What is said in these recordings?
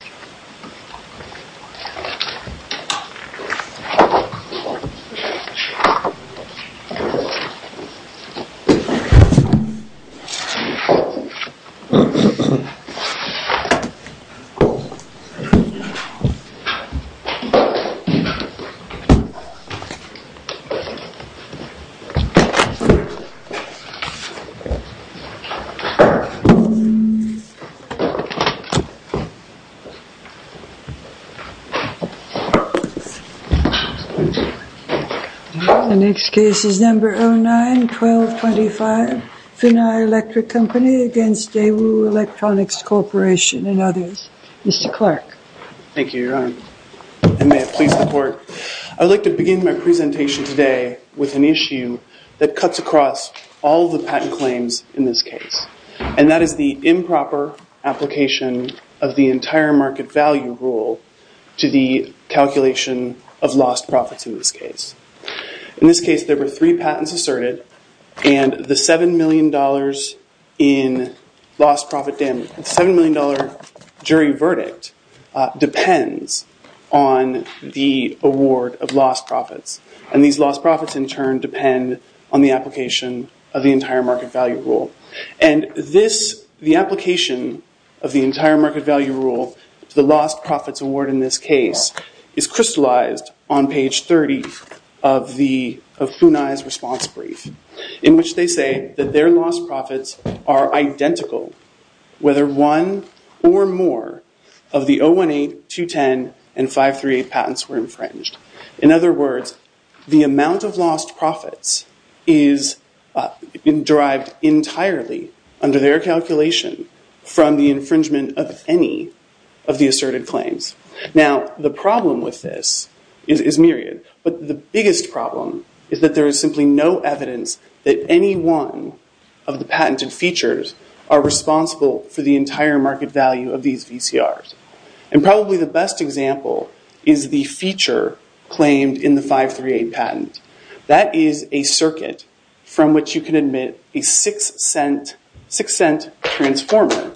This is a video of the Daewood Electric v. Daewood Electronics I have been using it for a long time. I would like to begin my presentation today with an issue that cuts across all the patent claims in this case, and that is the improper application of the entire manufacturer's patent. The entire market value rule to the calculation of lost profits in this case. In this case, there were three patents asserted, and the $7 million jury verdict depends on the award of lost profits. And these lost profits, in turn, depend on the application of the entire market value rule. And the application of the entire market value rule to the lost profits award in this case is crystallized on page 30 of Funai's response brief. In which they say that their lost profits are identical whether one or more of the 018, 210, and 538 patents were infringed. In other words, the amount of lost profits is derived entirely under their calculation from the infringement of any of the asserted claims. Now, the problem with this is myriad. But the biggest problem is that there is simply no evidence that any one of the patented features are responsible for the entire market value of these VCRs. And probably the best example is the feature claimed in the 538 patent. That is a circuit from which you can admit a six cent transformer.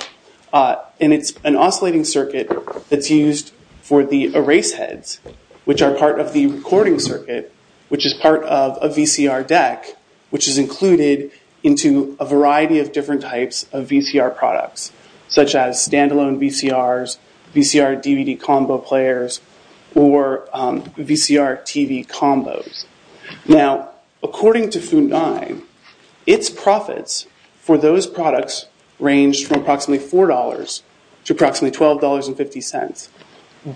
And it's an oscillating circuit that's used for the erase heads, which are part of the recording circuit, which is part of a VCR deck, which is included into a variety of different types of VCR products. Such as standalone VCRs, VCR DVD combo players, or VCR TV combos. Now, according to Funai, its profits for those products range from approximately $4 to approximately $12.50.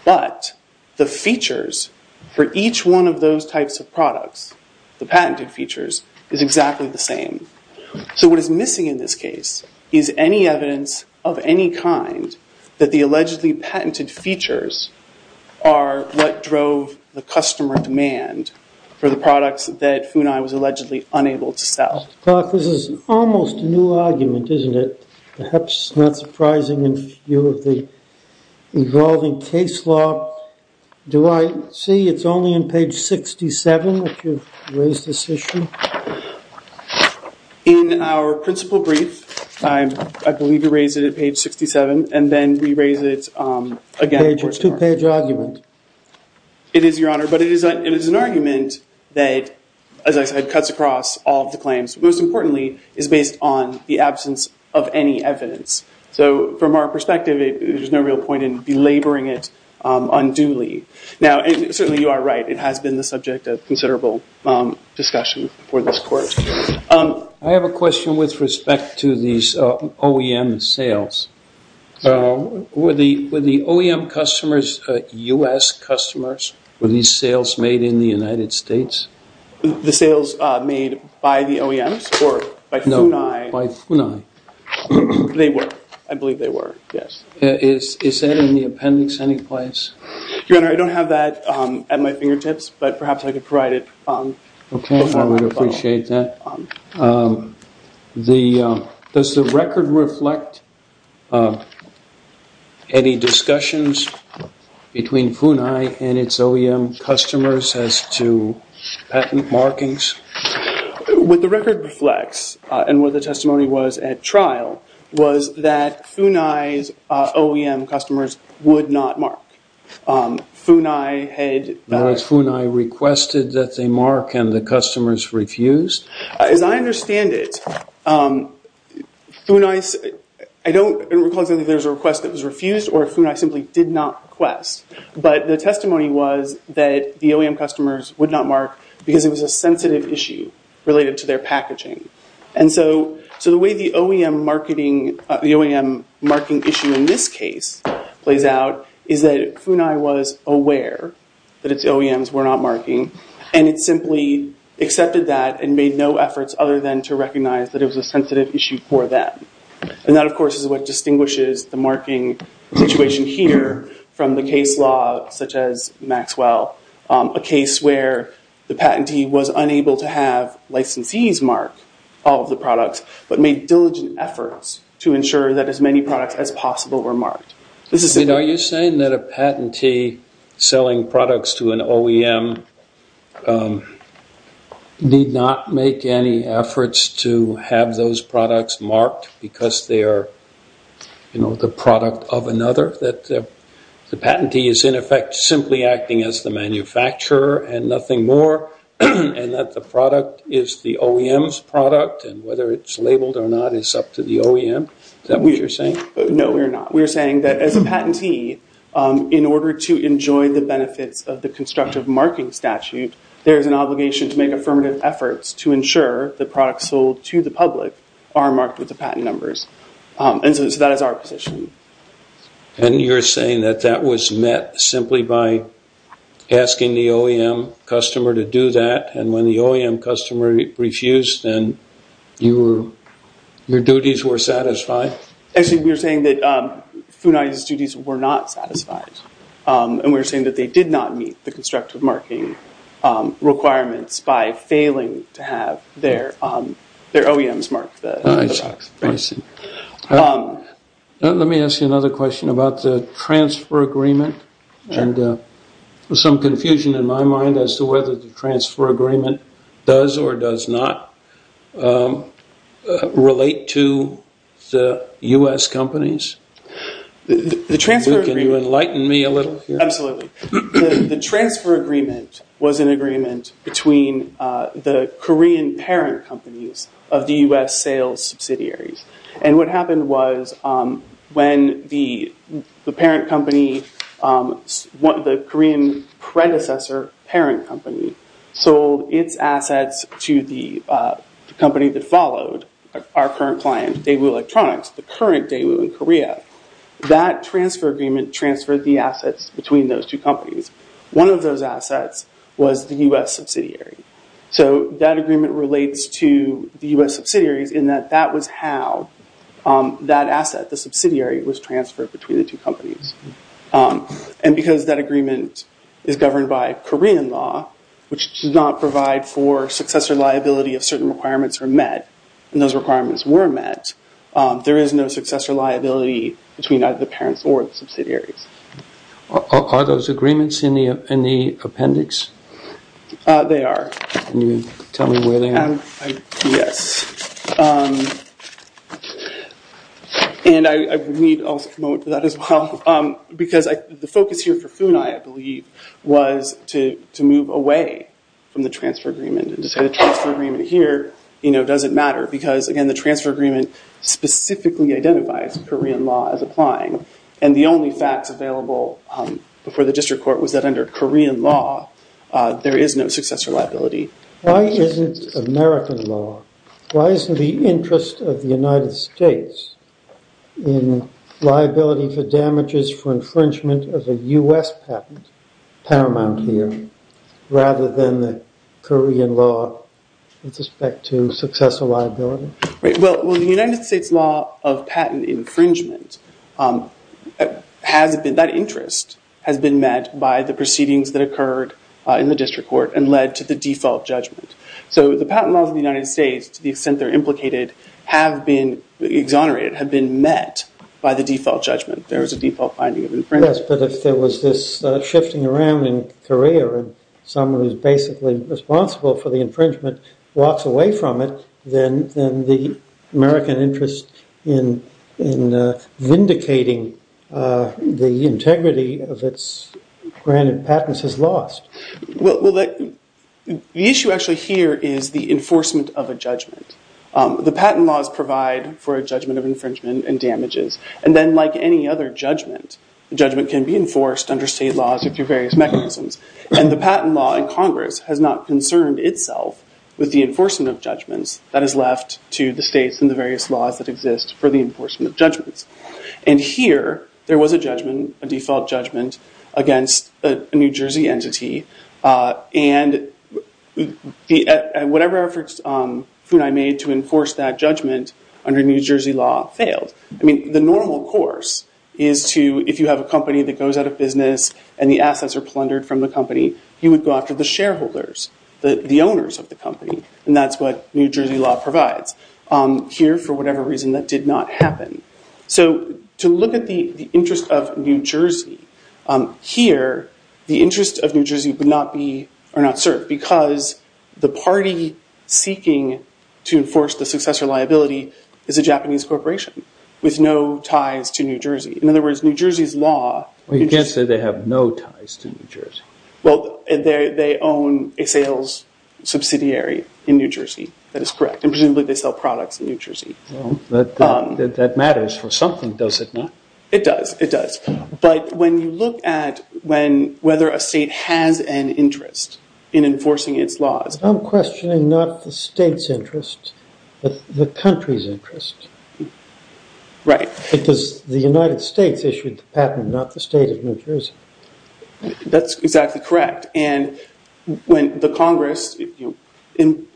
But the features for each one of those types of products, the patented features, is exactly the same. So what is missing in this case is any evidence of any kind that the allegedly patented features are what drove the customer demand for the products that Funai was allegedly unable to sell. Well, this is almost a new argument, isn't it? Perhaps not surprising in view of the evolving case law. Do I see it's only in page 67 that you've raised this issue? In our principal brief, I believe you raised it at page 67. And then we raise it again. It's a two page argument. It is, Your Honor. But it is an argument that, as I said, cuts across all of the claims. Most importantly, it's based on the absence of any evidence. So from our perspective, there's no real point in belaboring it unduly. Now, certainly you are right. It has been the subject of considerable discussion before this court. I have a question with respect to these OEM sales. Were the OEM customers U.S. customers? Were these sales made in the United States? The sales made by the OEMs or by Funai? No, by Funai. They were. I believe they were, yes. Is that in the appendix any place? Your Honor, I don't have that at my fingertips, but perhaps I could provide it. Okay, I would appreciate that. Does the record reflect any discussions between Funai and its OEM customers as to patent markings? What the record reflects and what the testimony was at trial was that Funai's OEM customers would not mark. Was Funai requested that they mark and the customers refused? As I understand it, I don't recall if there was a request that was refused or if Funai simply did not request. But the testimony was that the OEM customers would not mark because it was a sensitive issue related to their packaging. And so the way the OEM marketing issue in this case plays out is that Funai was aware that its OEMs were not marking and it simply accepted that and made no efforts other than to recognize that it was a sensitive issue for them. And that, of course, is what distinguishes the marking situation here from the case law such as Maxwell, a case where the patentee was unable to have licensees mark all of the products but made diligent efforts to ensure that as many products as possible were marked. Are you saying that a patentee selling products to an OEM need not make any efforts to have those products marked because they are the product of another? That the patentee is in effect simply acting as the manufacturer and nothing more and that the product is the OEM's product and whether it's labeled or not is up to the OEM? Is that what you're saying? No, we're not. We're saying that as a patentee, in order to enjoy the benefits of the constructive marking statute, there is an obligation to make affirmative efforts to ensure the products sold to the public are marked with the patent numbers. And so that is our position. And you're saying that that was met simply by asking the OEM customer to do that and when the OEM customer refused, then your duties were satisfied? Actually, we're saying that FUNAI's duties were not satisfied and we're saying that they did not meet the constructive marking requirements by failing to have their OEMs mark the products. I see. Let me ask you another question about the transfer agreement and some confusion in my mind as to whether the transfer agreement does or does not relate to the U.S. companies. Can you enlighten me a little here? Absolutely. The transfer agreement was an agreement between the Korean parent companies of the U.S. sales subsidiaries. And what happened was when the parent company, the Korean predecessor parent company, sold its assets to the company that followed, our current client, Daewoo Electronics, the current Daewoo in Korea, that transfer agreement transferred the assets between those two companies. One of those assets was the U.S. subsidiary. So that agreement relates to the U.S. subsidiaries in that that was how that asset, the subsidiary, was transferred between the two companies. And because that agreement is governed by Korean law, which does not provide for successor liability if certain requirements are met, and those requirements were met, there is no successor liability between either the parents or the subsidiaries. Are those agreements in the appendix? They are. Can you tell me where they are? Yes. And I need also a moment for that as well, because the focus here for Funai, I believe, was to move away from the transfer agreement and to say the transfer agreement here doesn't matter, because, again, the transfer agreement specifically identifies Korean law as applying. And the only facts available before the district court was that under Korean law, there is no successor liability. Why isn't American law? Why isn't the interest of the United States in liability for damages for infringement of a U.S. patent paramount here rather than the Korean law with respect to successor liability? Well, the United States law of patent infringement, that interest has been met by the proceedings that occurred in the district court and led to the default judgment. So the patent laws of the United States, to the extent they're implicated, have been exonerated, have been met by the default judgment. There is a default finding of infringement. Yes, but if there was this shifting around in Korea and someone who's basically responsible for the infringement walks away from it, then the American interest in vindicating the integrity of its granted patents is lost. Well, the issue actually here is the enforcement of a judgment. The patent laws provide for a judgment of infringement and damages. And then, like any other judgment, the judgment can be enforced under state laws or through various mechanisms. And the patent law in Congress has not concerned itself with the enforcement of judgments that is left to the states and the various laws that exist for the enforcement of judgments. And here, there was a judgment, a default judgment, against a New Jersey entity. And whatever efforts Funai made to enforce that judgment under New Jersey law failed. I mean, the normal course is to, if you have a company that goes out of business and the assets are plundered from the company, you would go after the shareholders, the owners of the company. And that's what New Jersey law provides. Here, for whatever reason, that did not happen. So, to look at the interest of New Jersey, here, the interest of New Jersey would not be, are not served because the party seeking to enforce the successor liability is a Japanese corporation with no ties to New Jersey. In other words, New Jersey's law- Well, you can't say they have no ties to New Jersey. Well, they own a sales subsidiary in New Jersey. That is correct. And presumably, they sell products in New Jersey. That matters for something, does it not? It does. It does. But when you look at whether a state has an interest in enforcing its laws- I'm questioning not the state's interest, but the country's interest. Right. Because the United States issued the patent, not the state of New Jersey. That's exactly correct. And when the Congress enacted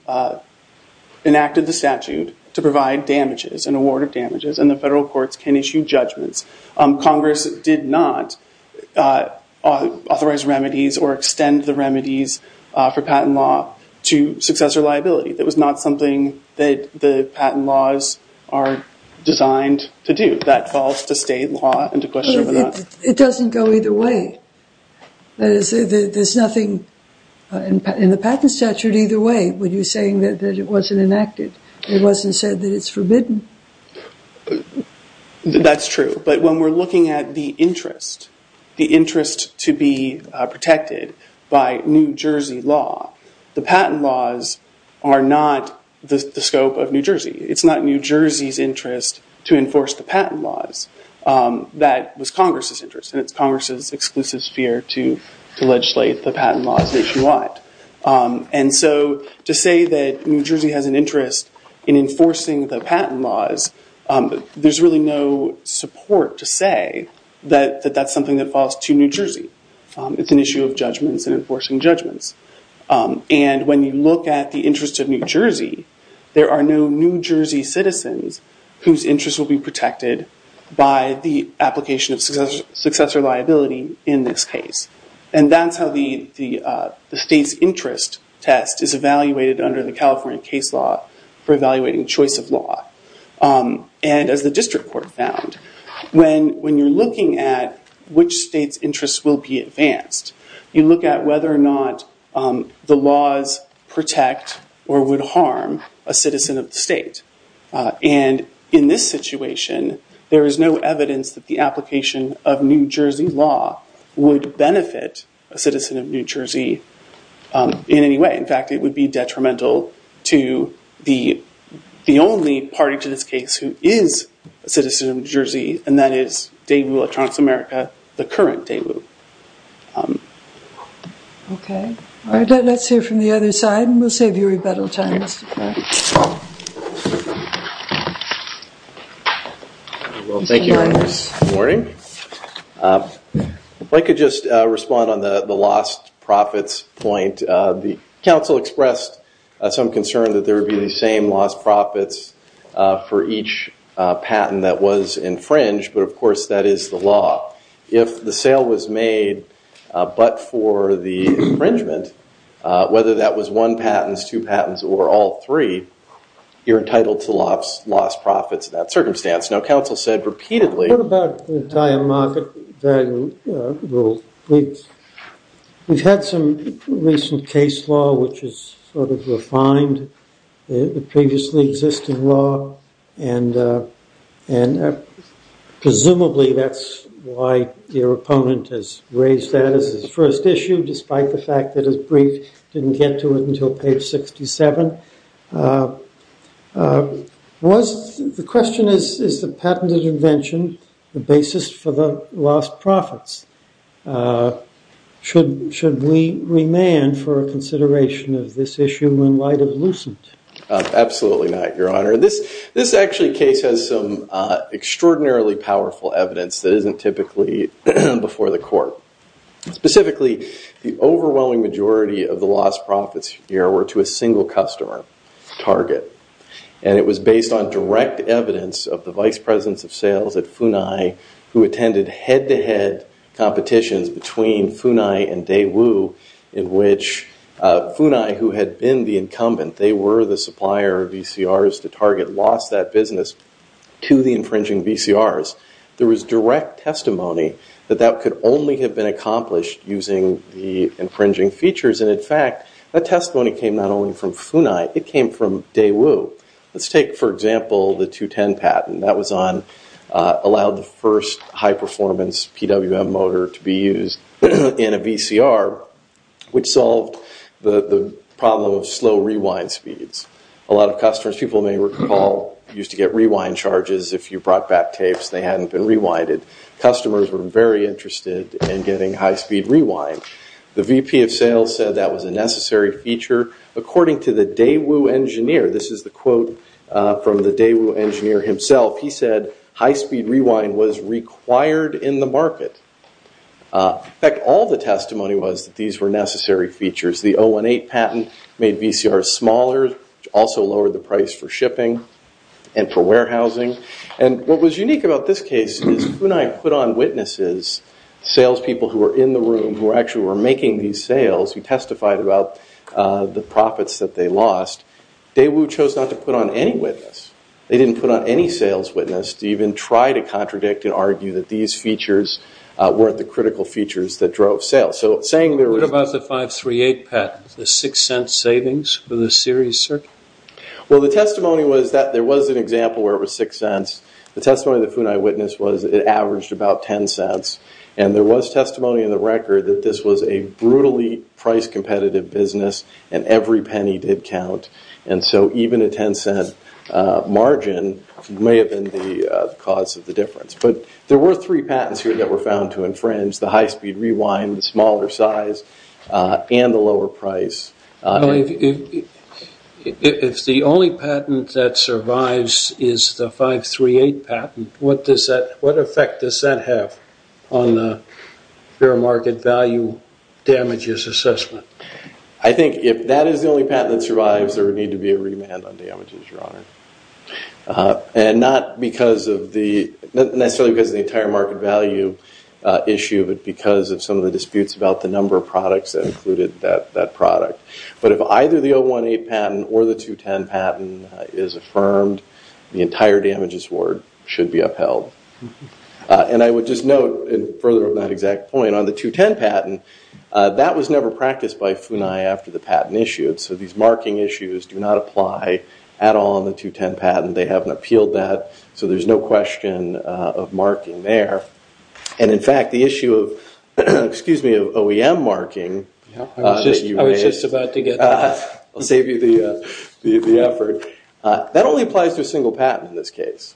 the statute to provide damages, an award of damages, and the federal courts can issue judgments, Congress did not authorize remedies or extend the remedies for patent law to successor liability. That was not something that the patent laws are designed to do. That falls to state law and to question whether or not- It doesn't go either way. There's nothing in the patent statute either way when you're saying that it wasn't enacted. It wasn't said that it's forbidden. That's true. But when we're looking at the interest, the interest to be protected by New Jersey law, the patent laws are not the scope of New Jersey. It's not New Jersey's interest to enforce the patent laws. That was Congress's interest, and it's Congress's exclusive sphere to legislate the patent laws if you want. And so to say that New Jersey has an interest in enforcing the patent laws, there's really no support to say that that's something that falls to New Jersey. It's an issue of judgments and enforcing judgments. And when you look at the interest of New Jersey, there are no New Jersey citizens whose interests will be protected by the application of successor liability in this case. And that's how the state's interest test is evaluated under the California case law for evaluating choice of law. And as the district court found, when you're looking at which state's interest will be advanced, you look at whether or not the laws protect or would harm a citizen of the state. And in this situation, there is no evidence that the application of New Jersey law would benefit a citizen of New Jersey in any way. In fact, it would be detrimental to the only party to this case who is a citizen of New Jersey, and that is Daewoo Electronics America, the current Daewoo. OK. All right. Let's hear from the other side and we'll save you rebuttal time. Well, thank you. Good morning. If I could just respond on the lost profits point. The council expressed some concern that there would be the same lost profits for each patent that was infringed. But, of course, that is the law. If the sale was made but for the infringement, whether that was one patent, two patents, or all three, you're entitled to lost profits in that circumstance. What about the entire market value rule? We've had some recent case law which has sort of refined the previously existing law, and presumably that's why your opponent has raised that as his first issue, despite the fact that his brief didn't get to it until page 67. The question is, is the patented invention the basis for the lost profits? Should we remand for a consideration of this issue in light of Lucent? Absolutely not, Your Honor. This actually case has some extraordinarily powerful evidence that isn't typically before the court. Specifically, the overwhelming majority of the lost profits here were to a single customer, Target. It was based on direct evidence of the vice presidents of sales at Funai who attended head-to-head competitions between Funai and Daewoo, in which Funai, who had been the incumbent, they were the supplier of VCRs to Target, lost that business to the infringing VCRs. There was direct testimony that that could only have been accomplished using the infringing features, and in fact, that testimony came not only from Funai, it came from Daewoo. Let's take, for example, the 210 patent. That allowed the first high-performance PWM motor to be used in a VCR, which solved the problem of slow rewind speeds. A lot of customers, people may recall, used to get rewind charges if you brought back tapes. They hadn't been rewinded. Customers were very interested in getting high-speed rewind. The VP of sales said that was a necessary feature. According to the Daewoo engineer, this is the quote from the Daewoo engineer himself, he said high-speed rewind was required in the market. In fact, all the testimony was that these were necessary features. The 018 patent made VCRs smaller, also lowered the price for shipping and for warehousing. What was unique about this case is Funai put on witnesses, salespeople who were in the room who actually were making these sales, who testified about the profits that they lost. Daewoo chose not to put on any witness. They didn't put on any sales witness to even try to contradict and argue that these features weren't the critical features that drove sales. What about the 538 patent, the six-cent savings for the series circuit? The testimony was that there was an example where it was six cents. The testimony that Funai witnessed was it averaged about 10 cents. There was testimony in the record that this was a brutally price-competitive business and every penny did count. Even a 10-cent margin may have been the cause of the difference. There were three patents here that were found to infringe the high-speed rewind, the smaller size, and the lower price. If the only patent that survives is the 538 patent, what effect does that have on the fair market value damages assessment? I think if that is the only patent that survives, there would need to be a remand on damages, Your Honor. Not necessarily because of the entire market value issue, but because of some of the disputes about the number of products that included that product. But if either the 018 patent or the 210 patent is affirmed, the entire damages award should be upheld. I would just note, further on that exact point, on the 210 patent, that was never practiced by Funai after the patent issued, so these marking issues do not apply at all on the 210 patent. They haven't appealed that, so there's no question of marking there. In fact, the issue of OEM marking that you raised... I was just about to get that. I'll save you the effort. That only applies to a single patent in this case.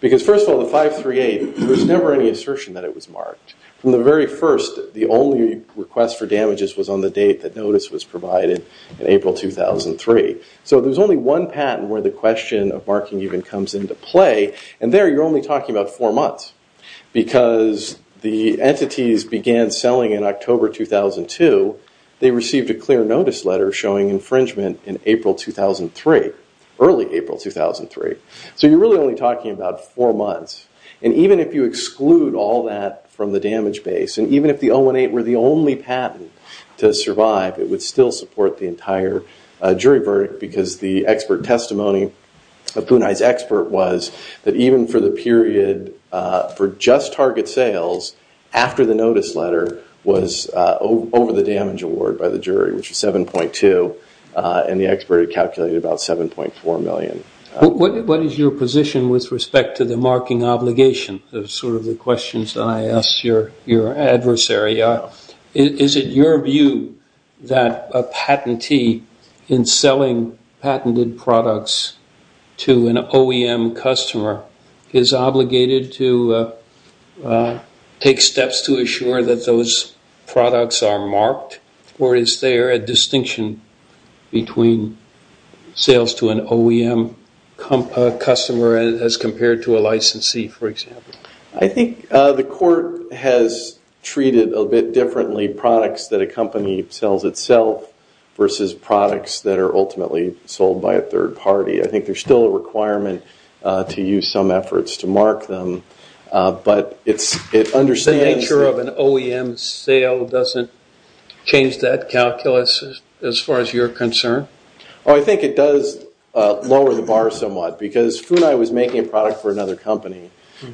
Because first of all, the 538, there was never any assertion that it was marked. From the very first, the only request for damages was on the date that notice was provided in April 2003. So there's only one patent where the question of marking even comes into play, and there you're only talking about four months. Because the entities began selling in October 2002, they received a clear notice letter showing infringement in April 2003, early April 2003. So you're really only talking about four months. And even if you exclude all that from the damage base, and even if the 018 were the only patent to survive, it would still support the entire jury verdict because the expert testimony of Funai's expert was that even for the period for just target sales, after the notice letter was over the damage award by the jury, which was 7.2, and the expert had calculated about 7.4 million. What is your position with respect to the marking obligation? Those are sort of the questions that I ask your adversary. Is it your view that a patentee in selling patented products to an OEM customer is obligated to take steps to assure that those products are marked, or is there a distinction between sales to an OEM customer as compared to a licensee, for example? I think the court has treated a bit differently products that a company sells itself versus products that are ultimately sold by a third party. I think there's still a requirement to use some efforts to mark them, but it understands that The nature of an OEM sale doesn't change that calculus as far as you're concerned? Oh, I think it does lower the bar somewhat because FUNAI was making a product for another company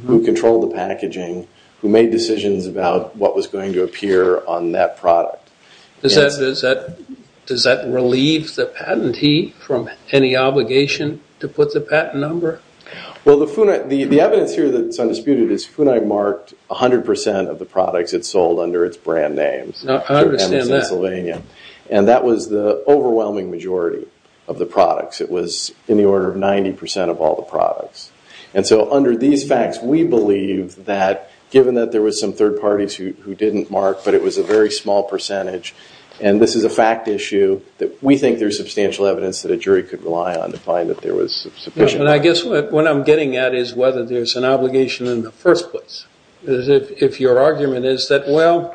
who controlled the packaging, who made decisions about what was going to appear on that product. Does that relieve the patentee from any obligation to put the patent number? Well, the evidence here that's undisputed is FUNAI marked 100% of the products it sold under its brand names. I understand that. And that was the overwhelming majority of the products. It was in the order of 90% of all the products. And so under these facts, we believe that given that there was some third parties who didn't mark, but it was a very small percentage, and this is a fact issue that we think there's substantial evidence that a jury could rely on to find that there was sufficient evidence. And I guess what I'm getting at is whether there's an obligation in the first place. If your argument is that, well,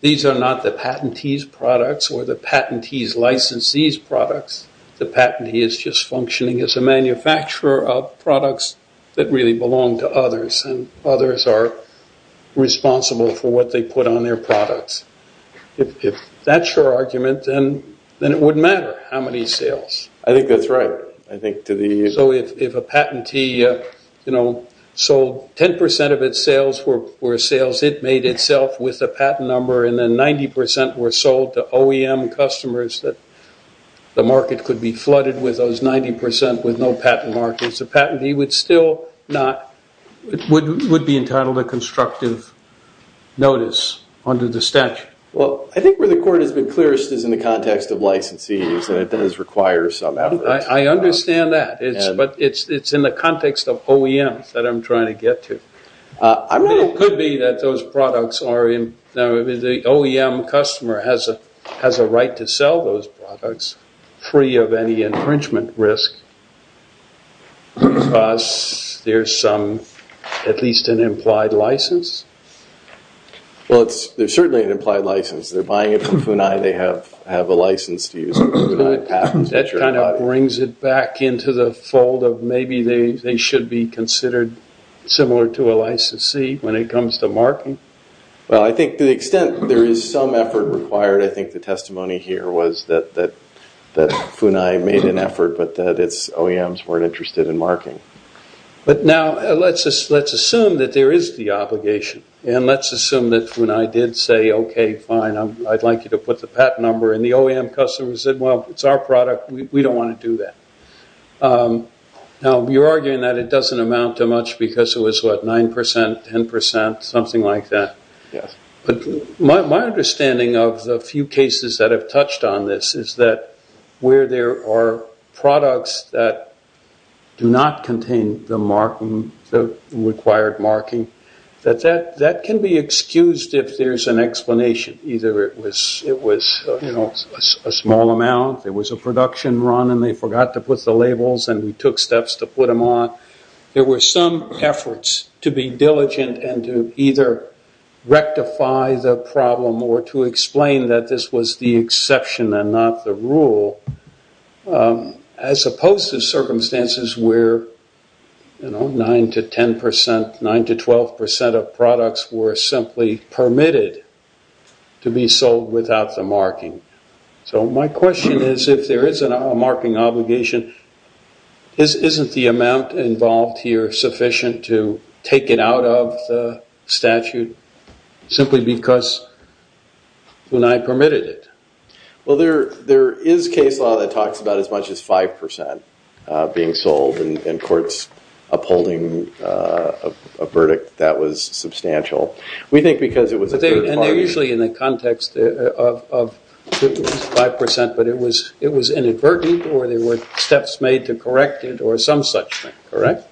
these are not the patentee's products or the patentee's licensed these products. The patentee is just functioning as a manufacturer of products that really belong to others, and others are responsible for what they put on their products. If that's your argument, then it wouldn't matter how many sales. I think that's right. So if a patentee sold 10% of its sales were sales it made itself with a patent number, and then 90% were sold to OEM customers that the market could be flooded with those 90% with no patent markers, the patentee would still not... Would be entitled to constructive notice under the statute. Well, I think where the court has been clearest is in the context of licensees, and it does require some effort. I understand that, but it's in the context of OEMs that I'm trying to get to. It could be that those products are in... The OEM customer has a right to sell those products free of any infringement risk because there's at least an implied license. Well, there's certainly an implied license. They're buying it from FUNAI. They have a license to use it. That kind of brings it back into the fold of maybe they should be considered similar to a licensee when it comes to marking. Well, I think to the extent there is some effort required, I think the testimony here was that FUNAI made an effort, but that its OEMs weren't interested in marking. But now let's assume that there is the obligation, and let's assume that FUNAI did say, okay, fine, I'd like you to put the patent number, and the OEM customer said, well, it's our product. We don't want to do that. Now, you're arguing that it doesn't amount to much because it was, what, 9%, 10%, something like that. But my understanding of the few cases that have touched on this is that where there are products that do not contain the required marking, that can be excused if there's an explanation. Either it was a small amount, there was a production run, and they forgot to put the labels, and we took steps to put them on. There were some efforts to be diligent and to either rectify the problem or to explain that this was the exception and not the rule, as opposed to circumstances where 9% to 10%, 9% to 12% of products were simply permitted to be sold without the marking. So my question is, if there is a marking obligation, isn't the amount involved here sufficient to take it out of the statute simply because FUNAI permitted it? Well, there is case law that talks about as much as 5% being sold, and courts upholding a verdict that was substantial. We think because it was a third party. And they're usually in the context of 5%, but it was inadvertent or there were steps made to correct it or some such thing, correct?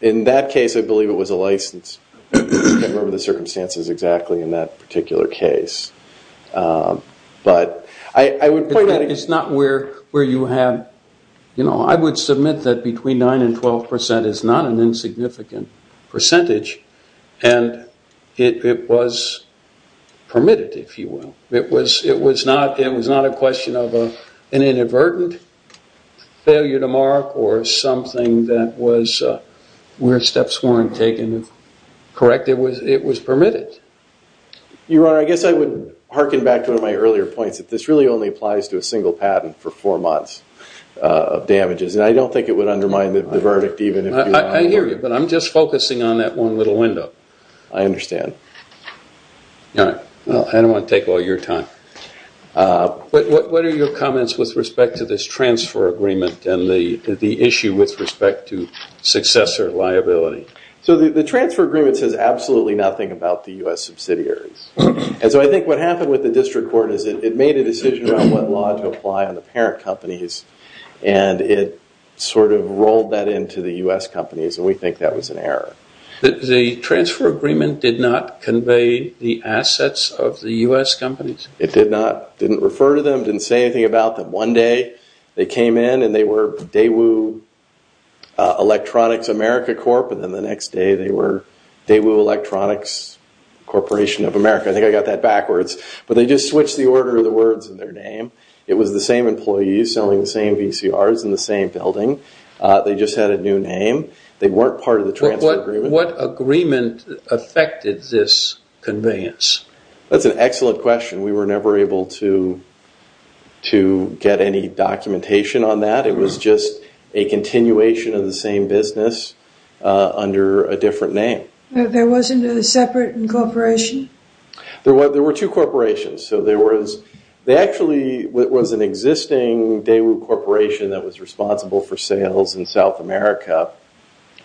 In that case, I believe it was a license. I can't remember the circumstances exactly in that particular case. But I would point out... It's not where you have... I would submit that between 9% and 12% is not an insignificant percentage, and it was permitted, if you will. It was not a question of an inadvertent failure to mark or something that was where steps weren't taken, correct? It was permitted. Your Honor, I guess I would harken back to one of my earlier points that this really only applies to a single patent for four months of damages, and I don't think it would undermine the verdict even if... I hear you, but I'm just focusing on that one little window. I understand. Your Honor, I don't want to take all your time. What are your comments with respect to this transfer agreement and the issue with respect to successor liability? So the transfer agreement says absolutely nothing about the U.S. subsidiaries. And so I think what happened with the district court is it made a decision about what law to apply on the parent companies and it sort of rolled that into the U.S. companies, and we think that was an error. The transfer agreement did not convey the assets of the U.S. companies? It did not. It didn't refer to them, didn't say anything about them. One day they came in and they were Daewoo Electronics America Corp., and then the next day they were Daewoo Electronics Corporation of America. I think I got that backwards. But they just switched the order of the words in their name. It was the same employees selling the same VCRs in the same building. They just had a new name. They weren't part of the transfer agreement. What agreement affected this conveyance? That's an excellent question. We were never able to get any documentation on that. It was just a continuation of the same business under a different name. There wasn't a separate corporation? There were two corporations. So there was actually an existing Daewoo Corporation that was responsible for sales in South America,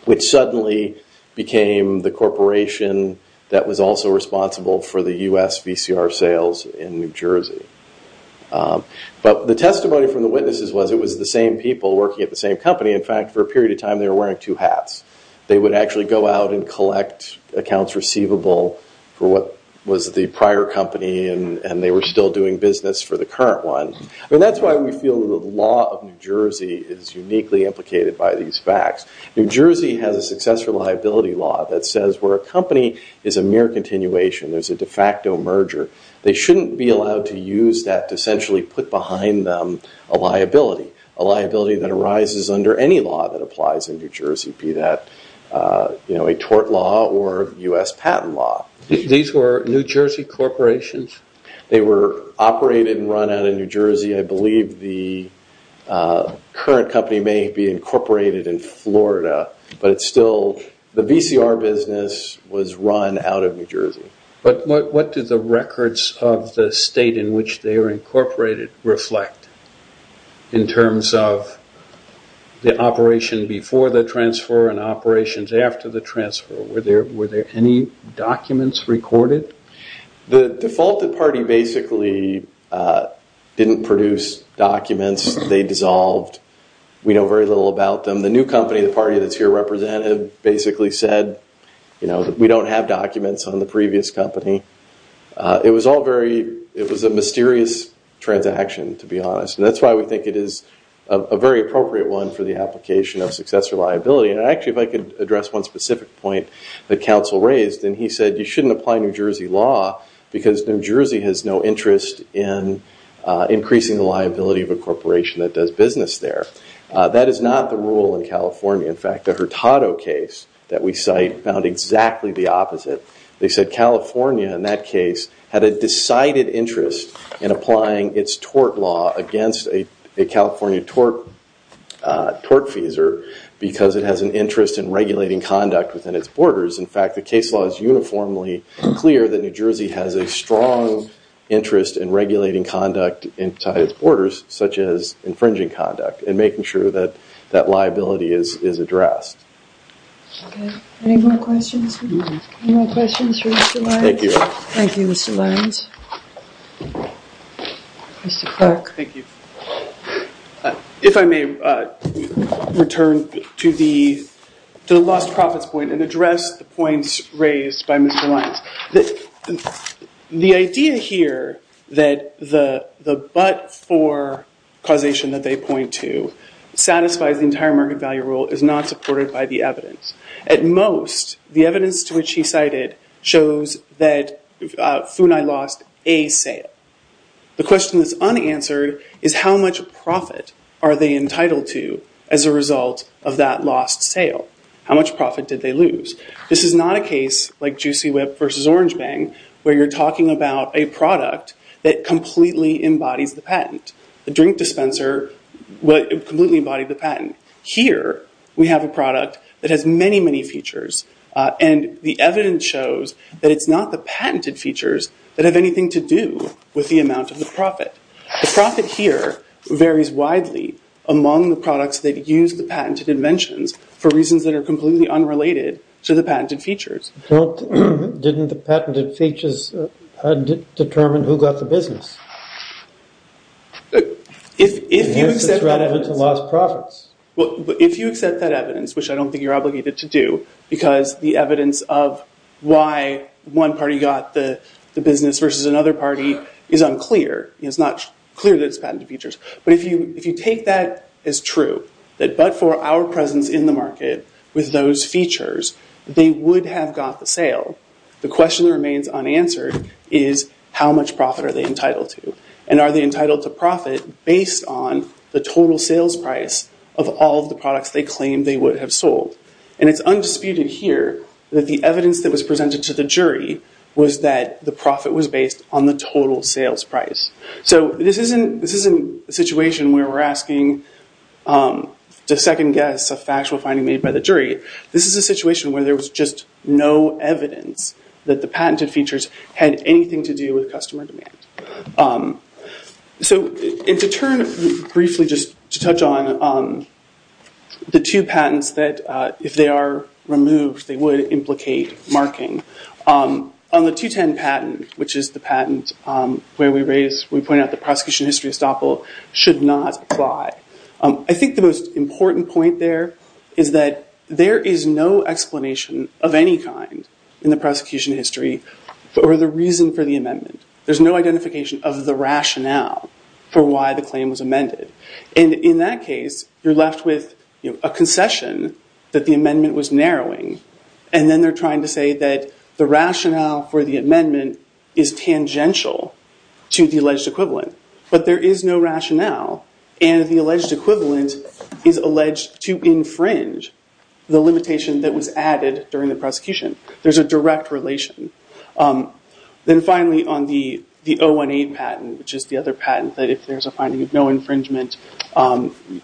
which suddenly became the corporation that was also responsible for the U.S. VCR sales in New Jersey. But the testimony from the witnesses was it was the same people working at the same company. In fact, for a period of time they were wearing two hats. They would actually go out and collect accounts receivable for what was the prior company, and they were still doing business for the current one. That's why we feel the law of New Jersey is uniquely implicated by these facts. New Jersey has a successor liability law that says where a company is a mere continuation, there's a de facto merger, they shouldn't be allowed to use that to essentially put behind them a liability, a liability that arises under any law that applies in New Jersey, be that a tort law or U.S. patent law. These were New Jersey corporations? They were operated and run out of New Jersey. I believe the current company may be incorporated in Florida, but it's still the VCR business was run out of New Jersey. But what do the records of the state in which they are incorporated reflect in terms of the operation before the transfer and operations after the transfer? Were there any documents recorded? The defaulted party basically didn't produce documents. They dissolved. We know very little about them. The new company, the party that's here represented, basically said we don't have documents on the previous company. It was a mysterious transaction, to be honest, and that's why we think it is a very appropriate one for the application of successor liability. Actually, if I could address one specific point that counsel raised, and he said you shouldn't apply New Jersey law because New Jersey has no interest in increasing the liability of a corporation that does business there. That is not the rule in California. In fact, the Hurtado case that we cite found exactly the opposite. They said California, in that case, had a decided interest in applying its tort law against a California tort feeser because it has an interest in regulating conduct within its borders. In fact, the case law is uniformly clear that New Jersey has a strong interest in regulating conduct inside its borders, such as infringing conduct, and making sure that that liability is addressed. Okay. Any more questions? Any more questions for Mr. Lyons? Thank you. Thank you, Mr. Lyons. Mr. Clark. Thank you. If I may return to the lost profits point and address the points raised by Mr. Lyons. The idea here that the but for causation that they point to satisfies the entire market value rule is not supported by the evidence. At most, the evidence to which he cited shows that FUNAI lost a sale. The question that's unanswered is how much profit are they entitled to as a result of that lost sale? How much profit did they lose? This is not a case like Juicy Whip versus Orange Bang where you're talking about a product that completely embodies the patent. The drink dispenser completely embodied the patent. Here, we have a product that has many, many features, and the evidence shows that it's not the patented features that have anything to do with the amount of the profit. The profit here varies widely among the products that use the patented inventions for reasons that are completely unrelated to the patented features. Didn't the patented features determine who got the business? If you accept that evidence. It's relevant to lost profits. If you accept that evidence, which I don't think you're obligated to do, because the evidence of why one party got the business versus another party is unclear. It's not clear that it's patented features. If you take that as true, that but for our presence in the market with those features, they would have got the sale, the question that remains unanswered is how much profit are they entitled to? Are they entitled to profit based on the total sales price of all of the products they claim they would have sold? It's undisputed here that the evidence that was presented to the jury was that the profit was based on the total sales price. This isn't a situation where we're asking to second guess a factual finding made by the jury. This is a situation where there was just no evidence that the patented features had anything to do with customer demand. To turn briefly just to touch on the two patents that, if they are removed, they would implicate marking. On the 210 patent, which is the patent where we point out the prosecution history estoppel, should not apply. I think the most important point there is that there is no explanation of any kind in the prosecution history for the reason for the amendment. There's no identification of the rationale for why the claim was amended. In that case, you're left with a concession that the amendment was narrowing, and then they're trying to say that the rationale for the amendment is tangential to the alleged equivalent. But there is no rationale, and the alleged equivalent is alleged to infringe the limitation that was added during the prosecution. There's a direct relation. Then finally, on the 018 patent, which is the other patent, that if there's a finding of no infringement,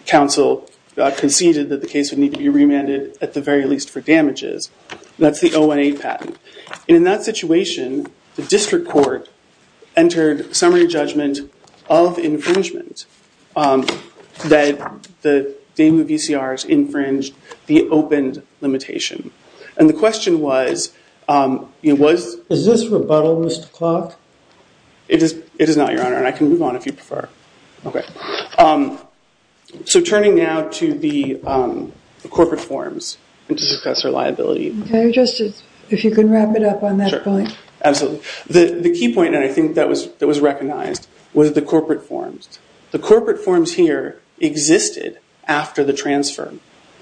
counsel conceded that the case would need to be remanded, at the very least, for damages. That's the 018 patent. In that situation, the district court entered summary judgment of infringement that the Daimu VCRs infringed the opened limitation. And the question was... Is this rebuttal, Mr. Clark? It is not, Your Honor, and I can move on if you prefer. Okay. So turning now to the corporate forms and to discuss reliability. If you can wrap it up on that point. Absolutely. The key point that I think that was recognized was the corporate forms. The corporate forms here existed after the transfer.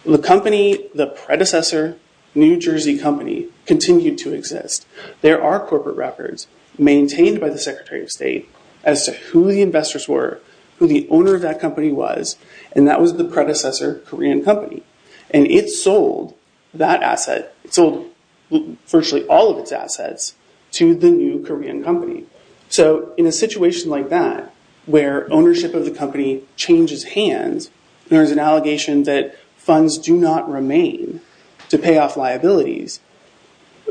The company, the predecessor, New Jersey Company, continued to exist. There are corporate records maintained by the Secretary of State as to who the investors were, who the owner of that company was, and that was the predecessor, Korean Company. And it sold that asset. It sold virtually all of its assets to the new Korean Company. So in a situation like that, where ownership of the company changes hands, there is an allegation that funds do not remain to pay off liabilities,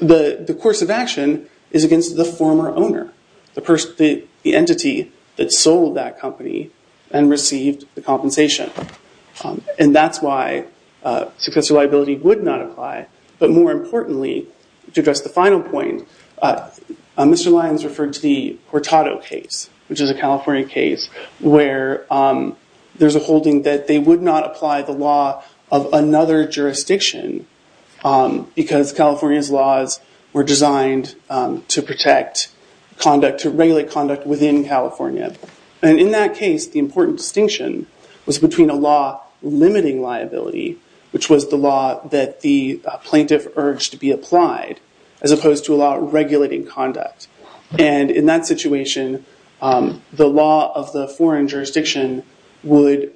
the course of action is against the former owner, the entity that sold that company and received the compensation. And that's why successor liability would not apply. But more importantly, to address the final point, Mr. Lyons referred to the Hurtado case, which is a California case, where there's a holding that they would not apply the law of another jurisdiction because California's laws were designed to regulate conduct within California. And in that case, the important distinction was between a law limiting liability, which was the law that the plaintiff urged to be applied, as opposed to a law regulating conduct. And in that situation, the law of the foreign jurisdiction would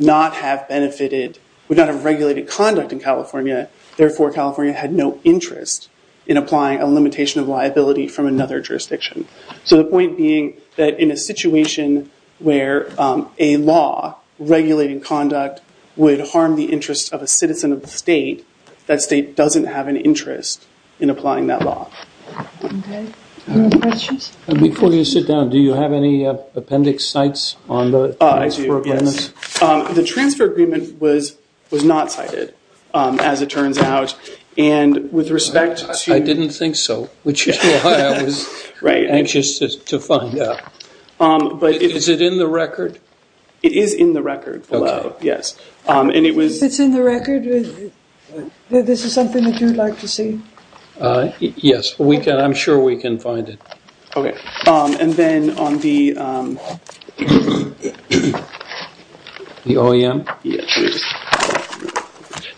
not have benefited, would not have regulated conduct in California, therefore California had no interest in applying a limitation of liability from another jurisdiction. So the point being that in a situation where a law regulating conduct would harm the interest of a citizen of the state, that state doesn't have an interest in applying that law. Any questions? Before you sit down, do you have any appendix sites on the transfer agreements? I do, yes. The transfer agreement was not cited, as it turns out, and with respect to- I didn't think so, which is why I was anxious to find out. But is it in the record? It is in the record below, yes. If it's in the record, this is something that you'd like to see? Yes, I'm sure we can find it. Okay. And then on the- The OEM? Yes.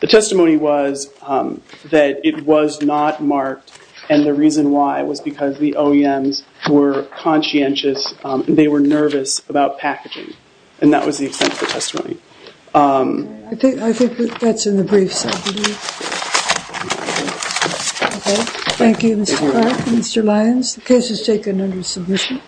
The testimony was that it was not marked, and the reason why was because the OEMs were conscientious, and they were nervous about packaging, and that was the extent of the testimony. I think that's in the briefs. Okay. Thank you, Mr. Clark and Mr. Lyons. The case is taken under submission.